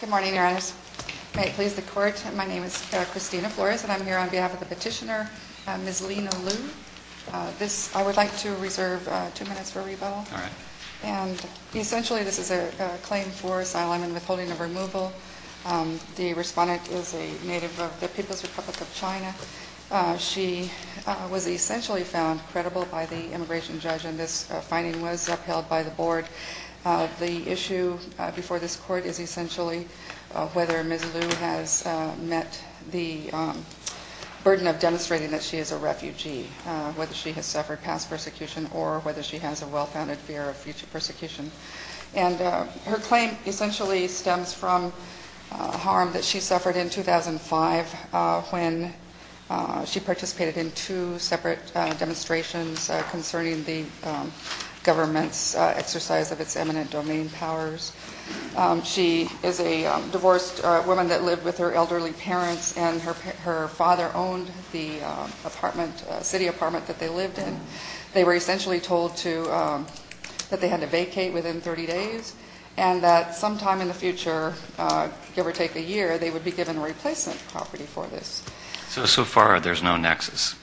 Good morning, Your Honor. May it please the Court, my name is Christina Flores, and I'm here on behalf of the petitioner, Ms. Lina Liu. I would like to reserve two minutes for rebuttal. Essentially, this is a claim for asylum and withholding of removal. The respondent is a native of the People's Republic of China. She was essentially found credible by the immigration judge, and this finding was upheld by the board. The issue before this Court is essentially whether Ms. Liu has met the burden of demonstrating that she is a refugee, whether she has suffered past persecution or whether she has a well-founded fear of future persecution. And her claim essentially stems from harm that she suffered in 2005 when she participated in two separate demonstrations concerning the government's exercise of its eminent domain powers. She is a divorced woman that lived with her elderly parents, and her father owned the apartment, city apartment that they lived in. They were essentially told to, that they had to vacate within 30 days, and that sometime in the future, give or take a year, they would be given replacement property for this. So, so far there's no nexus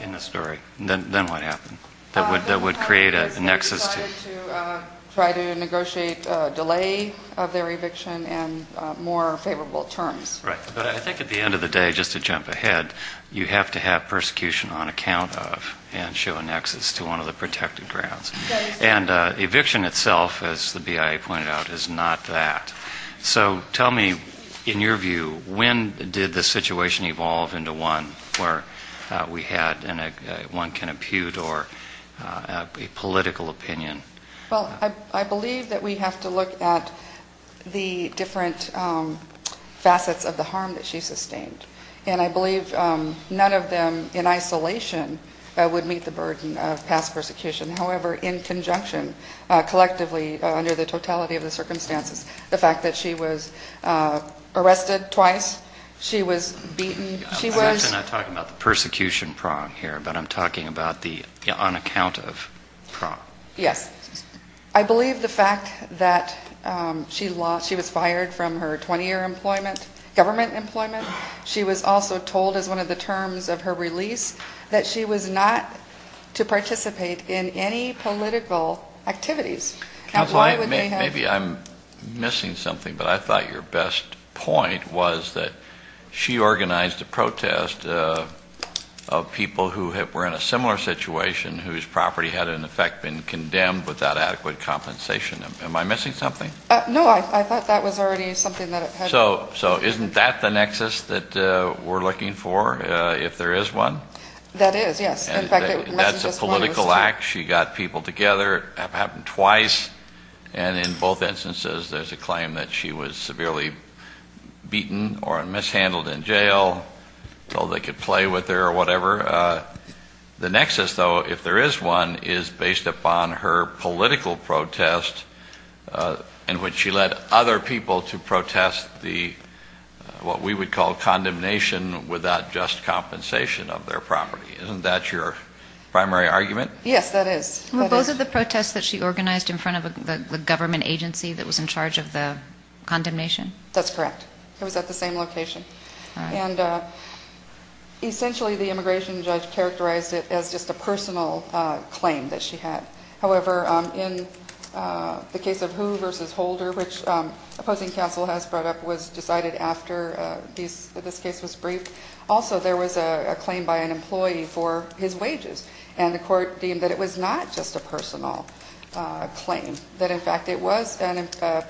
in the story? Then what happened? That would create a nexus to? They decided to try to negotiate a delay of their eviction and more favorable terms. Right. But I think at the end of the day, just to jump ahead, you have to have persecution on account of, and show a nexus to one of the protected grounds. And eviction itself, as the BIA pointed out, is not that. So tell me, in your view, when did the situation evolve into one where we had one can impute or a political opinion? Well, I believe that we have to look at the different facets of the harm that she sustained. And I believe none of them, in isolation, would meet the burden of past persecution. However, in conjunction, collectively, under the totality of the circumstances, the fact that she was arrested twice, she was beaten, she was? I'm not talking about the persecution prong here, but I'm talking about the on account of prong. Yes. I believe the fact that she was fired from her 20-year employment, government employment. She was also told, as one of the terms of her release, that she was not to participate in any political activities. Now, why would they have? Maybe I'm missing something, but I thought your best point was that she organized a protest of people who were in a similar situation, whose property had, in effect, been condemned without adequate compensation. Am I missing something? No, I thought that was already something that it had. So isn't that the nexus that we're looking for, if there is one? That is, yes. That's a political act. She got people together. It happened twice. And in both instances, there's a claim that she was severely beaten or mishandled in jail, told they could play with her or whatever. The nexus, though, if there is one, is based upon her political protest in which she led other people to protest the, what we would call, condemnation without just compensation of their property. Isn't that your primary argument? Yes, that is. Well, those are the protests that she organized in front of the government agency that was in charge of the condemnation? That's correct. It was at the same location. And essentially, the immigration judge characterized it as just a personal claim that she had. However, in the case of Who versus Holder, which opposing counsel has brought up, was decided after this case was briefed. Also, there was a claim by an employee for his wages, and the court deemed that it was not just a personal claim, that, in fact, it was a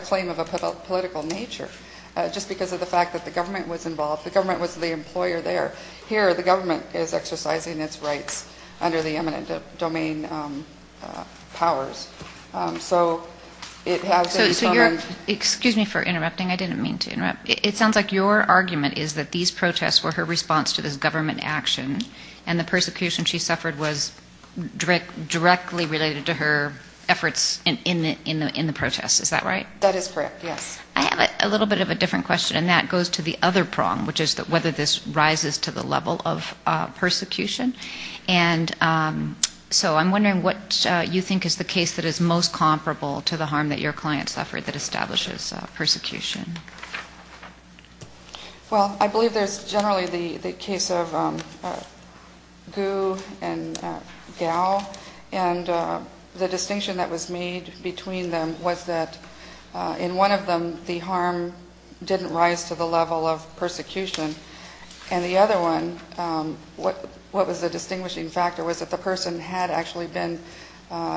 claim of a political nature just because of the fact that the government was involved. The government was the employer there. Here, the government is exercising its rights under the eminent domain powers. So it has been common. Excuse me for interrupting. I didn't mean to interrupt. It sounds like your argument is that these protests were her response to this government action, and the persecution she suffered was directly related to her efforts in the protests. Is that right? That is correct, yes. I have a little bit of a different question, and that goes to the other prong, which is whether this rises to the level of persecution. And so I'm wondering what you think is the case that is most comparable to the harm that your client suffered that establishes persecution. Well, I believe there's generally the case of Gu and Gao. And the distinction that was made between them was that, in one of them, the harm didn't rise to the level of persecution. And the other one, what was the distinguishing factor was that the person had actually been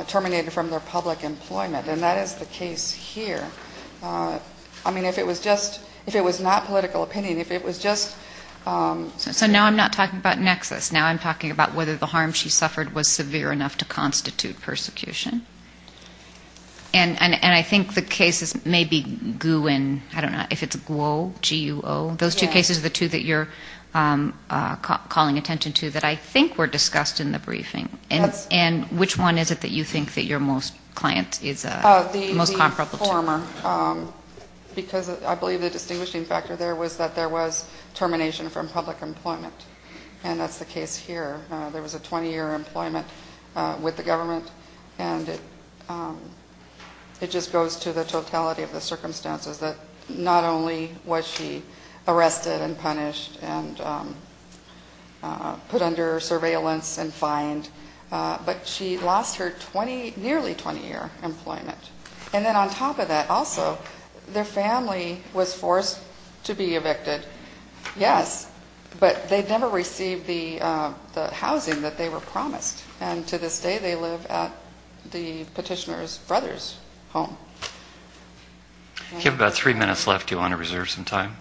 terminated from their public employment. And that is the case here. I mean, if it was not political opinion, if it was just ‑‑ So now I'm not talking about nexus. Now I'm talking about whether the harm she suffered was severe enough to constitute persecution. And I think the cases may be Gu and, I don't know, if it's Guo, G-U-O. Those two cases are the two that you're calling attention to that I think were discussed in the briefing. And which one is it that you think that your most client is most comparable to? The former, because I believe the distinguishing factor there was that there was termination from public employment. And that's the case here. There was a 20‑year employment with the government, and it just goes to the totality of the circumstances that not only was she arrested and punished and put under surveillance and fined, but she lost her nearly 20‑year employment. And then on top of that also, their family was forced to be evicted, yes, but they never received the housing that they were promised. And to this day they live at the petitioner's brother's home. You have about three minutes left. Do you want to reserve some time?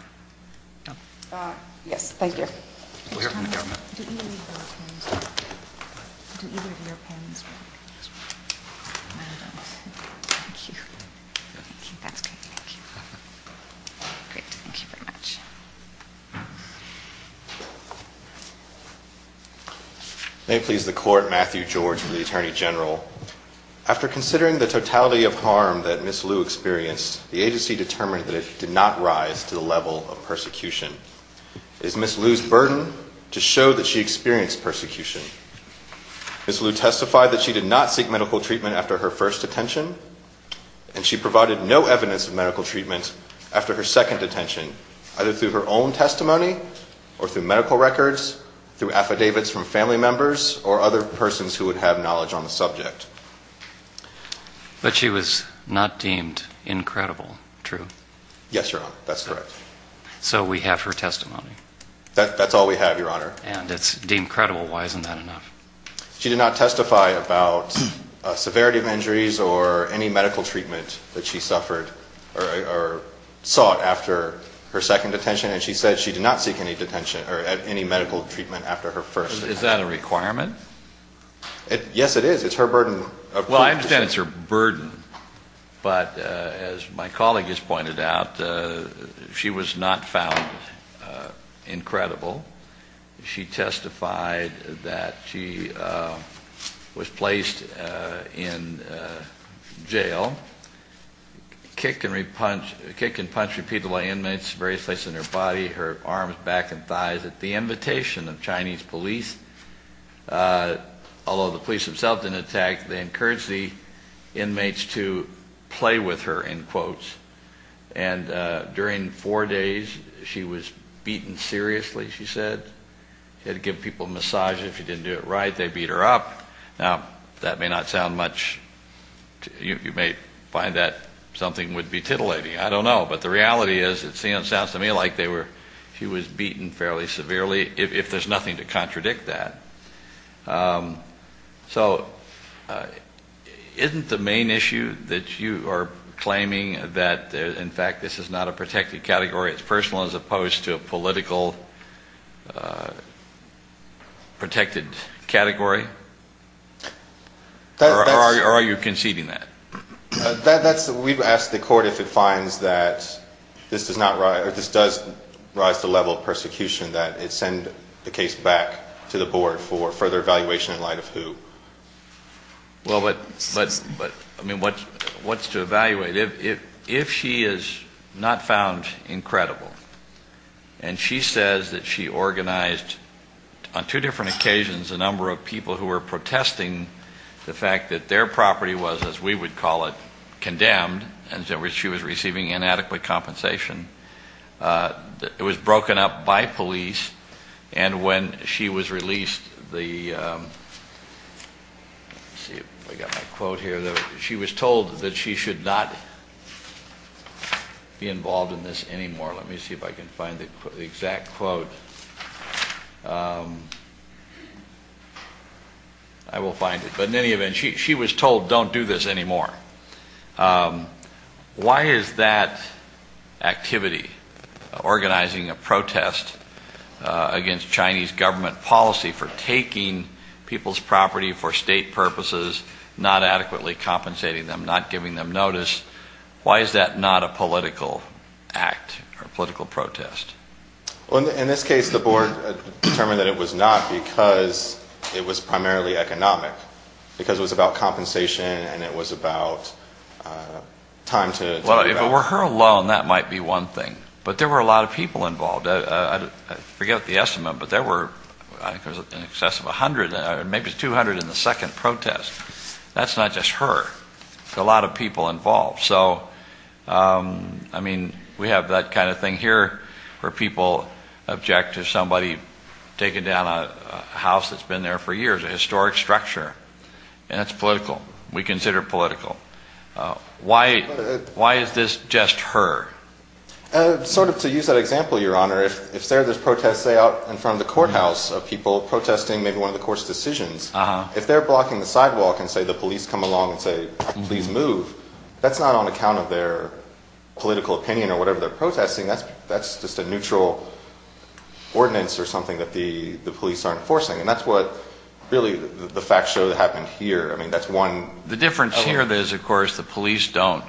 Yes. Thank you. We'll hear from the government. Do either of you have pens? Do either of you have pens? Thank you. Thank you. That's great. Thank you. Great. Thank you very much. May it please the Court, Matthew George for the Attorney General. After considering the totality of harm that Ms. Liu experienced, the agency determined that it did not rise to the level of persecution. It is Ms. Liu's burden to show that she experienced persecution. Ms. Liu testified that she did not seek medical treatment after her first detention, and she provided no evidence of medical treatment after her second detention, either through her own testimony or through medical records, through affidavits from family members, or other persons who would have knowledge on the subject. But she was not deemed incredible, true? Yes, Your Honor. That's correct. So we have her testimony. That's all we have, Your Honor. And it's deemed credible. Why isn't that enough? She did not testify about severity of injuries or any medical treatment that she suffered or sought after her second detention, and she said she did not seek any medical treatment after her first detention. Is that a requirement? Yes, it is. It's her burden. Well, I understand it's her burden, but as my colleague has pointed out, she was not found incredible. She testified that she was placed in jail, kicked and punched repeatedly by inmates in various places in her body, her arms, back, and thighs at the invitation of Chinese police. Although the police themselves didn't attack, they encouraged the inmates to play with her, in quotes. And during four days, she was beaten seriously, she said. She had to give people massages. If you didn't do it right, they beat her up. Now, that may not sound much to you. You may find that something would be titillating. I don't know. But the reality is it sounds to me like she was beaten fairly severely, if there's nothing to contradict that. So isn't the main issue that you are claiming that, in fact, this is not a protected category, it's personal as opposed to a political protected category? Or are you conceding that? We'd ask the court if it finds that this does rise to the level of persecution, that it send the case back to the board for further evaluation in light of who. Well, but, I mean, what's to evaluate? If she is not found incredible and she says that she organized, on two different occasions, a number of people who were protesting the fact that their property was, as we would call it, condemned, and she was receiving inadequate compensation, it was broken up by police, and when she was released, she was told that she should not be involved in this anymore. Let me see if I can find the exact quote. I will find it. But in any event, she was told, don't do this anymore. Why is that activity, organizing a protest against Chinese government policy for taking people's property for state purposes, not adequately compensating them, not giving them notice, why is that not a political act or political protest? Well, in this case, the board determined that it was not because it was primarily economic, because it was about compensation and it was about time to give up. Well, if it were her alone, that might be one thing. But there were a lot of people involved. I forget the estimate, but there were, I think it was in excess of 100, maybe 200 in the second protest. That's not just her. There's a lot of people involved. So, I mean, we have that kind of thing here where people object to somebody taking down a house that's been there for years, a historic structure. And that's political. We consider it political. Why is this just her? Sort of to use that example, Your Honor, if there's protests, say, out in front of the courthouse, people protesting maybe one of the court's decisions, if they're blocking the sidewalk and, say, the police come along and say, please move, that's not on account of their political opinion or whatever they're protesting. That's just a neutral ordinance or something that the police aren't enforcing. And that's what really the facts show that happened here. I mean, that's one. The difference here is, of course, the police aren't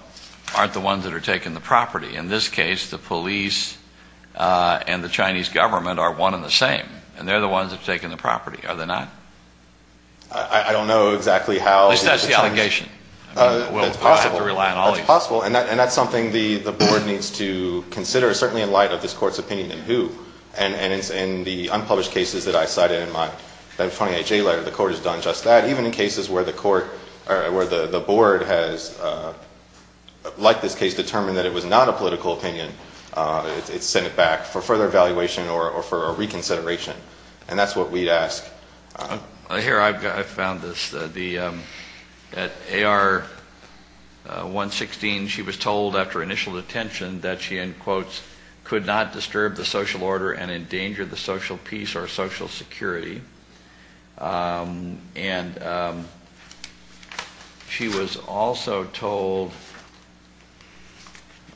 the ones that are taking the property. In this case, the police and the Chinese government are one and the same, and they're the ones that are taking the property, are they not? I don't know exactly how. At least that's the allegation. That's possible. And that's something the board needs to consider, certainly in light of this court's opinion in who. And in the unpublished cases that I cited in my 28-J letter, the court has done just that. Even in cases where the board has, like this case, determined that it was not a political opinion, it's sent it back for further evaluation or for a reconsideration. And that's what we'd ask. Here, I found this. At AR-116, she was told after initial detention that she, in quotes, could not disturb the social order and endanger the social peace or social security. And she was also told,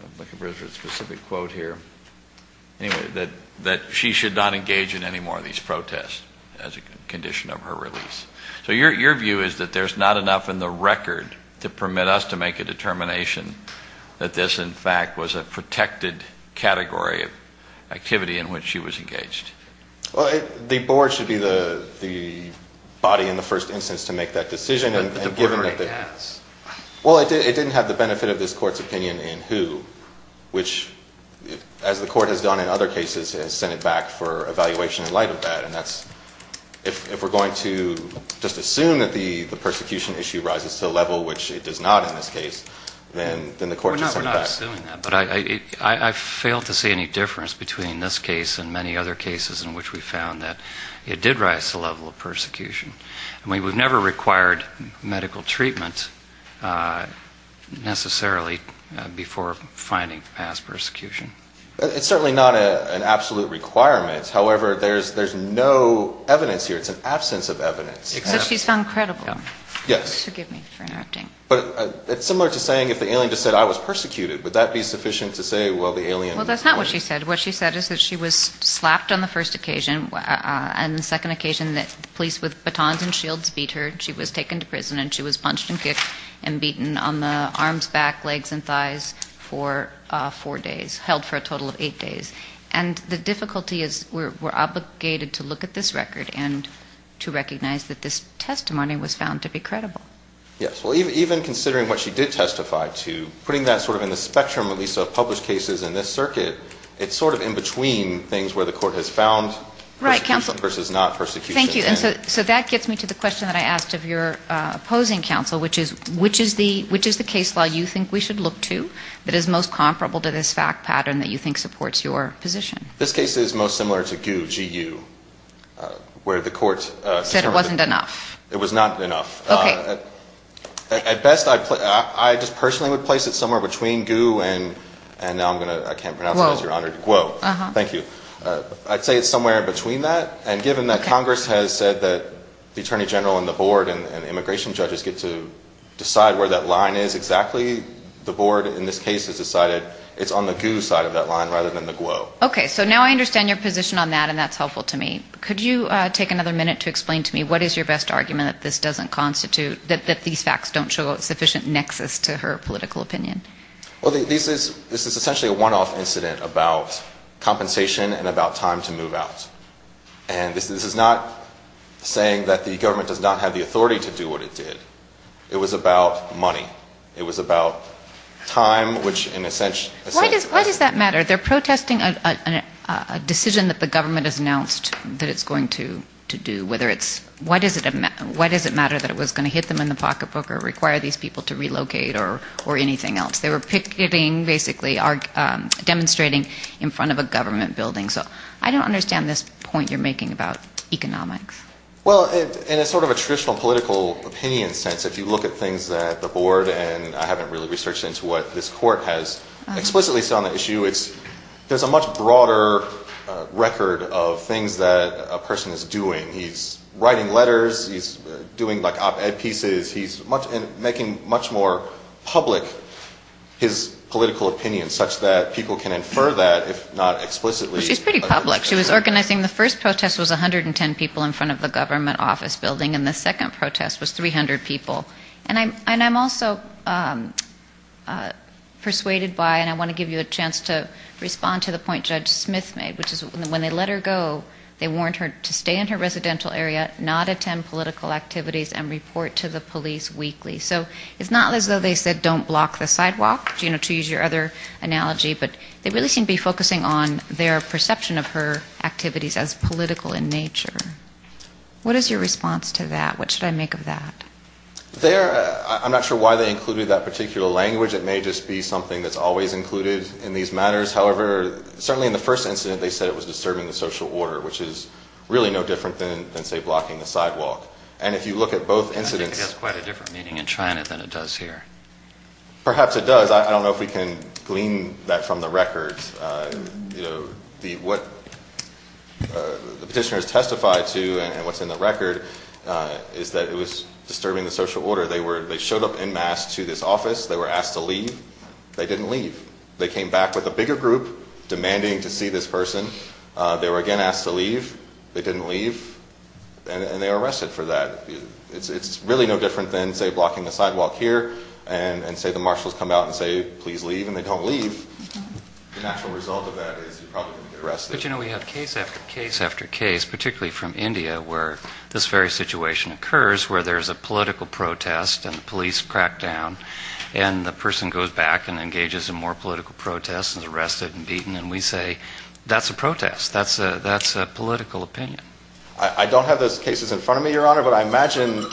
I'm looking for a specific quote here, that she should not engage in any more of these protests as a condition of her release. So your view is that there's not enough in the record to permit us to make a determination that this, in fact, was a protected category of activity in which she was engaged. Well, the board should be the body in the first instance to make that decision. But the board already has. Well, it didn't have the benefit of this court's opinion in who, which, as the court has done in other cases, has sent it back for evaluation in light of that. And that's, if we're going to just assume that the persecution issue rises to a level, which it does not in this case, then the court should send it back. We're not assuming that. But I failed to see any difference between this case and many other cases I mean, we've never required medical treatment necessarily before finding past persecution. It's certainly not an absolute requirement. However, there's no evidence here. It's an absence of evidence. Except she's found credible. Yes. Forgive me for interrupting. But it's similar to saying if the alien just said, I was persecuted, would that be sufficient to say, well, the alien was? Well, that's not what she said. What she said is that she was slapped on the first occasion. And the second occasion that the police with batons and shields beat her. She was taken to prison. And she was punched and kicked and beaten on the arms, back, legs, and thighs for four days, held for a total of eight days. And the difficulty is we're obligated to look at this record and to recognize that this testimony was found to be credible. Yes. Well, even considering what she did testify to, putting that sort of in the spectrum at least of published cases in this circuit, it's sort of in between things where the court has found persecution versus not persecution. Thank you. And so that gets me to the question that I asked of your opposing counsel, which is which is the case law you think we should look to that is most comparable to this fact pattern that you think supports your position? This case is most similar to GU, G-U, where the court said it wasn't enough. It was not enough. Okay. At best, I just personally would place it somewhere between GU and now I'm going to ‑‑ Guo. Guo. Thank you. I'd say it's somewhere in between that, and given that Congress has said that the Attorney General and the board and immigration judges get to decide where that line is exactly, the board in this case has decided it's on the GU side of that line rather than the Guo. Okay. So now I understand your position on that, and that's helpful to me. Could you take another minute to explain to me what is your best argument that this doesn't constitute, that these facts don't show sufficient nexus to her political opinion? Well, this is essentially a one‑off incident about compensation and about time to move out. And this is not saying that the government does not have the authority to do what it did. It was about money. It was about time, which in a sense ‑‑ Why does that matter? They're protesting a decision that the government has announced that it's going to do, whether it's ‑‑ why does it matter that it was going to hit them in the pocketbook or require these people to relocate or anything else? They were picketing, basically demonstrating in front of a government building. So I don't understand this point you're making about economics. Well, in a sort of a traditional political opinion sense, if you look at things that the board and I haven't really researched into what this court has explicitly said on the issue, there's a much broader record of things that a person is doing. He's writing letters. He's doing, like, op‑ed pieces. He's making much more public his political opinion such that people can infer that, if not explicitly. Well, she's pretty public. She was organizing the first protest was 110 people in front of the government office building, and the second protest was 300 people. And I'm also persuaded by, and I want to give you a chance to respond to the point Judge Smith made, which is when they let her go, they warned her to stay in her residential area, not attend political activities, and report to the police weekly. So it's not as though they said don't block the sidewalk, you know, to use your other analogy, but they really seem to be focusing on their perception of her activities as political in nature. What is your response to that? What should I make of that? I'm not sure why they included that particular language. It may just be something that's always included in these matters. However, certainly in the first incident they said it was disturbing the social order, which is really no different than, say, blocking the sidewalk. And if you look at both incidents. I think it has quite a different meaning in China than it does here. Perhaps it does. I don't know if we can glean that from the records. You know, what the petitioners testified to and what's in the record is that it was disturbing the social order. They showed up en masse to this office. They were asked to leave. They didn't leave. They came back with a bigger group demanding to see this person. They were, again, asked to leave. They didn't leave. And they were arrested for that. It's really no different than, say, blocking the sidewalk here and, say, the marshals come out and say, please leave, and they don't leave. The natural result of that is you're probably going to get arrested. But, you know, we have case after case after case, particularly from India, where this very situation occurs where there's a political protest and the police crack down and the person goes back and engages in more political protests and is arrested and beaten. And we say, that's a protest. That's a political opinion. I don't have those cases in front of me, Your Honor, but I imagine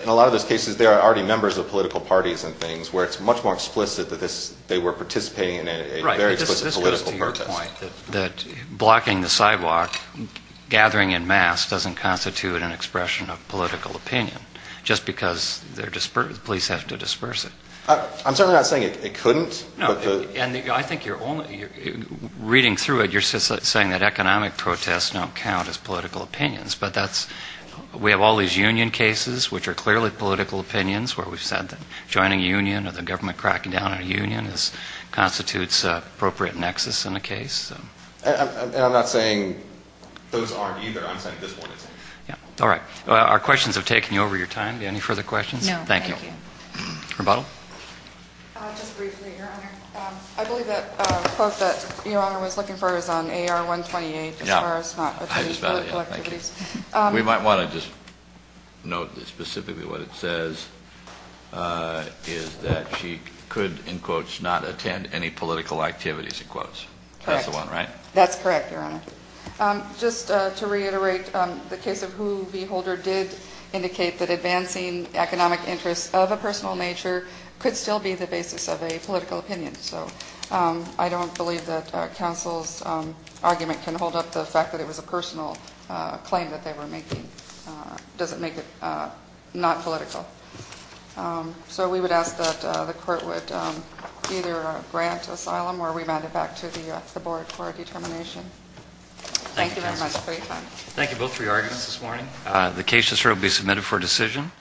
in a lot of those cases there are already members of political parties and things where it's much more explicit that they were participating in a very explicit political protest. Right. This goes to your point that blocking the sidewalk, gathering en masse, doesn't constitute an expression of political opinion just because the police have to disperse it. I'm certainly not saying it couldn't. And I think you're only reading through it, you're saying that economic protests don't count as political opinions. But we have all these union cases, which are clearly political opinions, where we've said that joining a union or the government cracking down on a union constitutes an appropriate nexus in a case. And I'm not saying those aren't either. I'm saying this one is. All right. Our questions have taken you over your time. Any further questions? No, thank you. Rebuttal? Just briefly, Your Honor. I believe that the quote that Your Honor was looking for is on AR-128, as far as not attending political activities. We might want to just note specifically what it says, is that she could, in quotes, not attend any political activities, in quotes. Correct. That's the one, right? That's correct, Your Honor. Just to reiterate, the case of Hu V. Holder did indicate that advancing economic interests of a personal nature could still be the basis of a political opinion. So I don't believe that counsel's argument can hold up the fact that it was a personal claim that they were making. It doesn't make it not political. So we would ask that the court would either grant asylum or remand it back to the board for a determination. Thank you very much for your time. Thank you, counsel. Thank you both for your arguments this morning. The case has now been submitted for decision.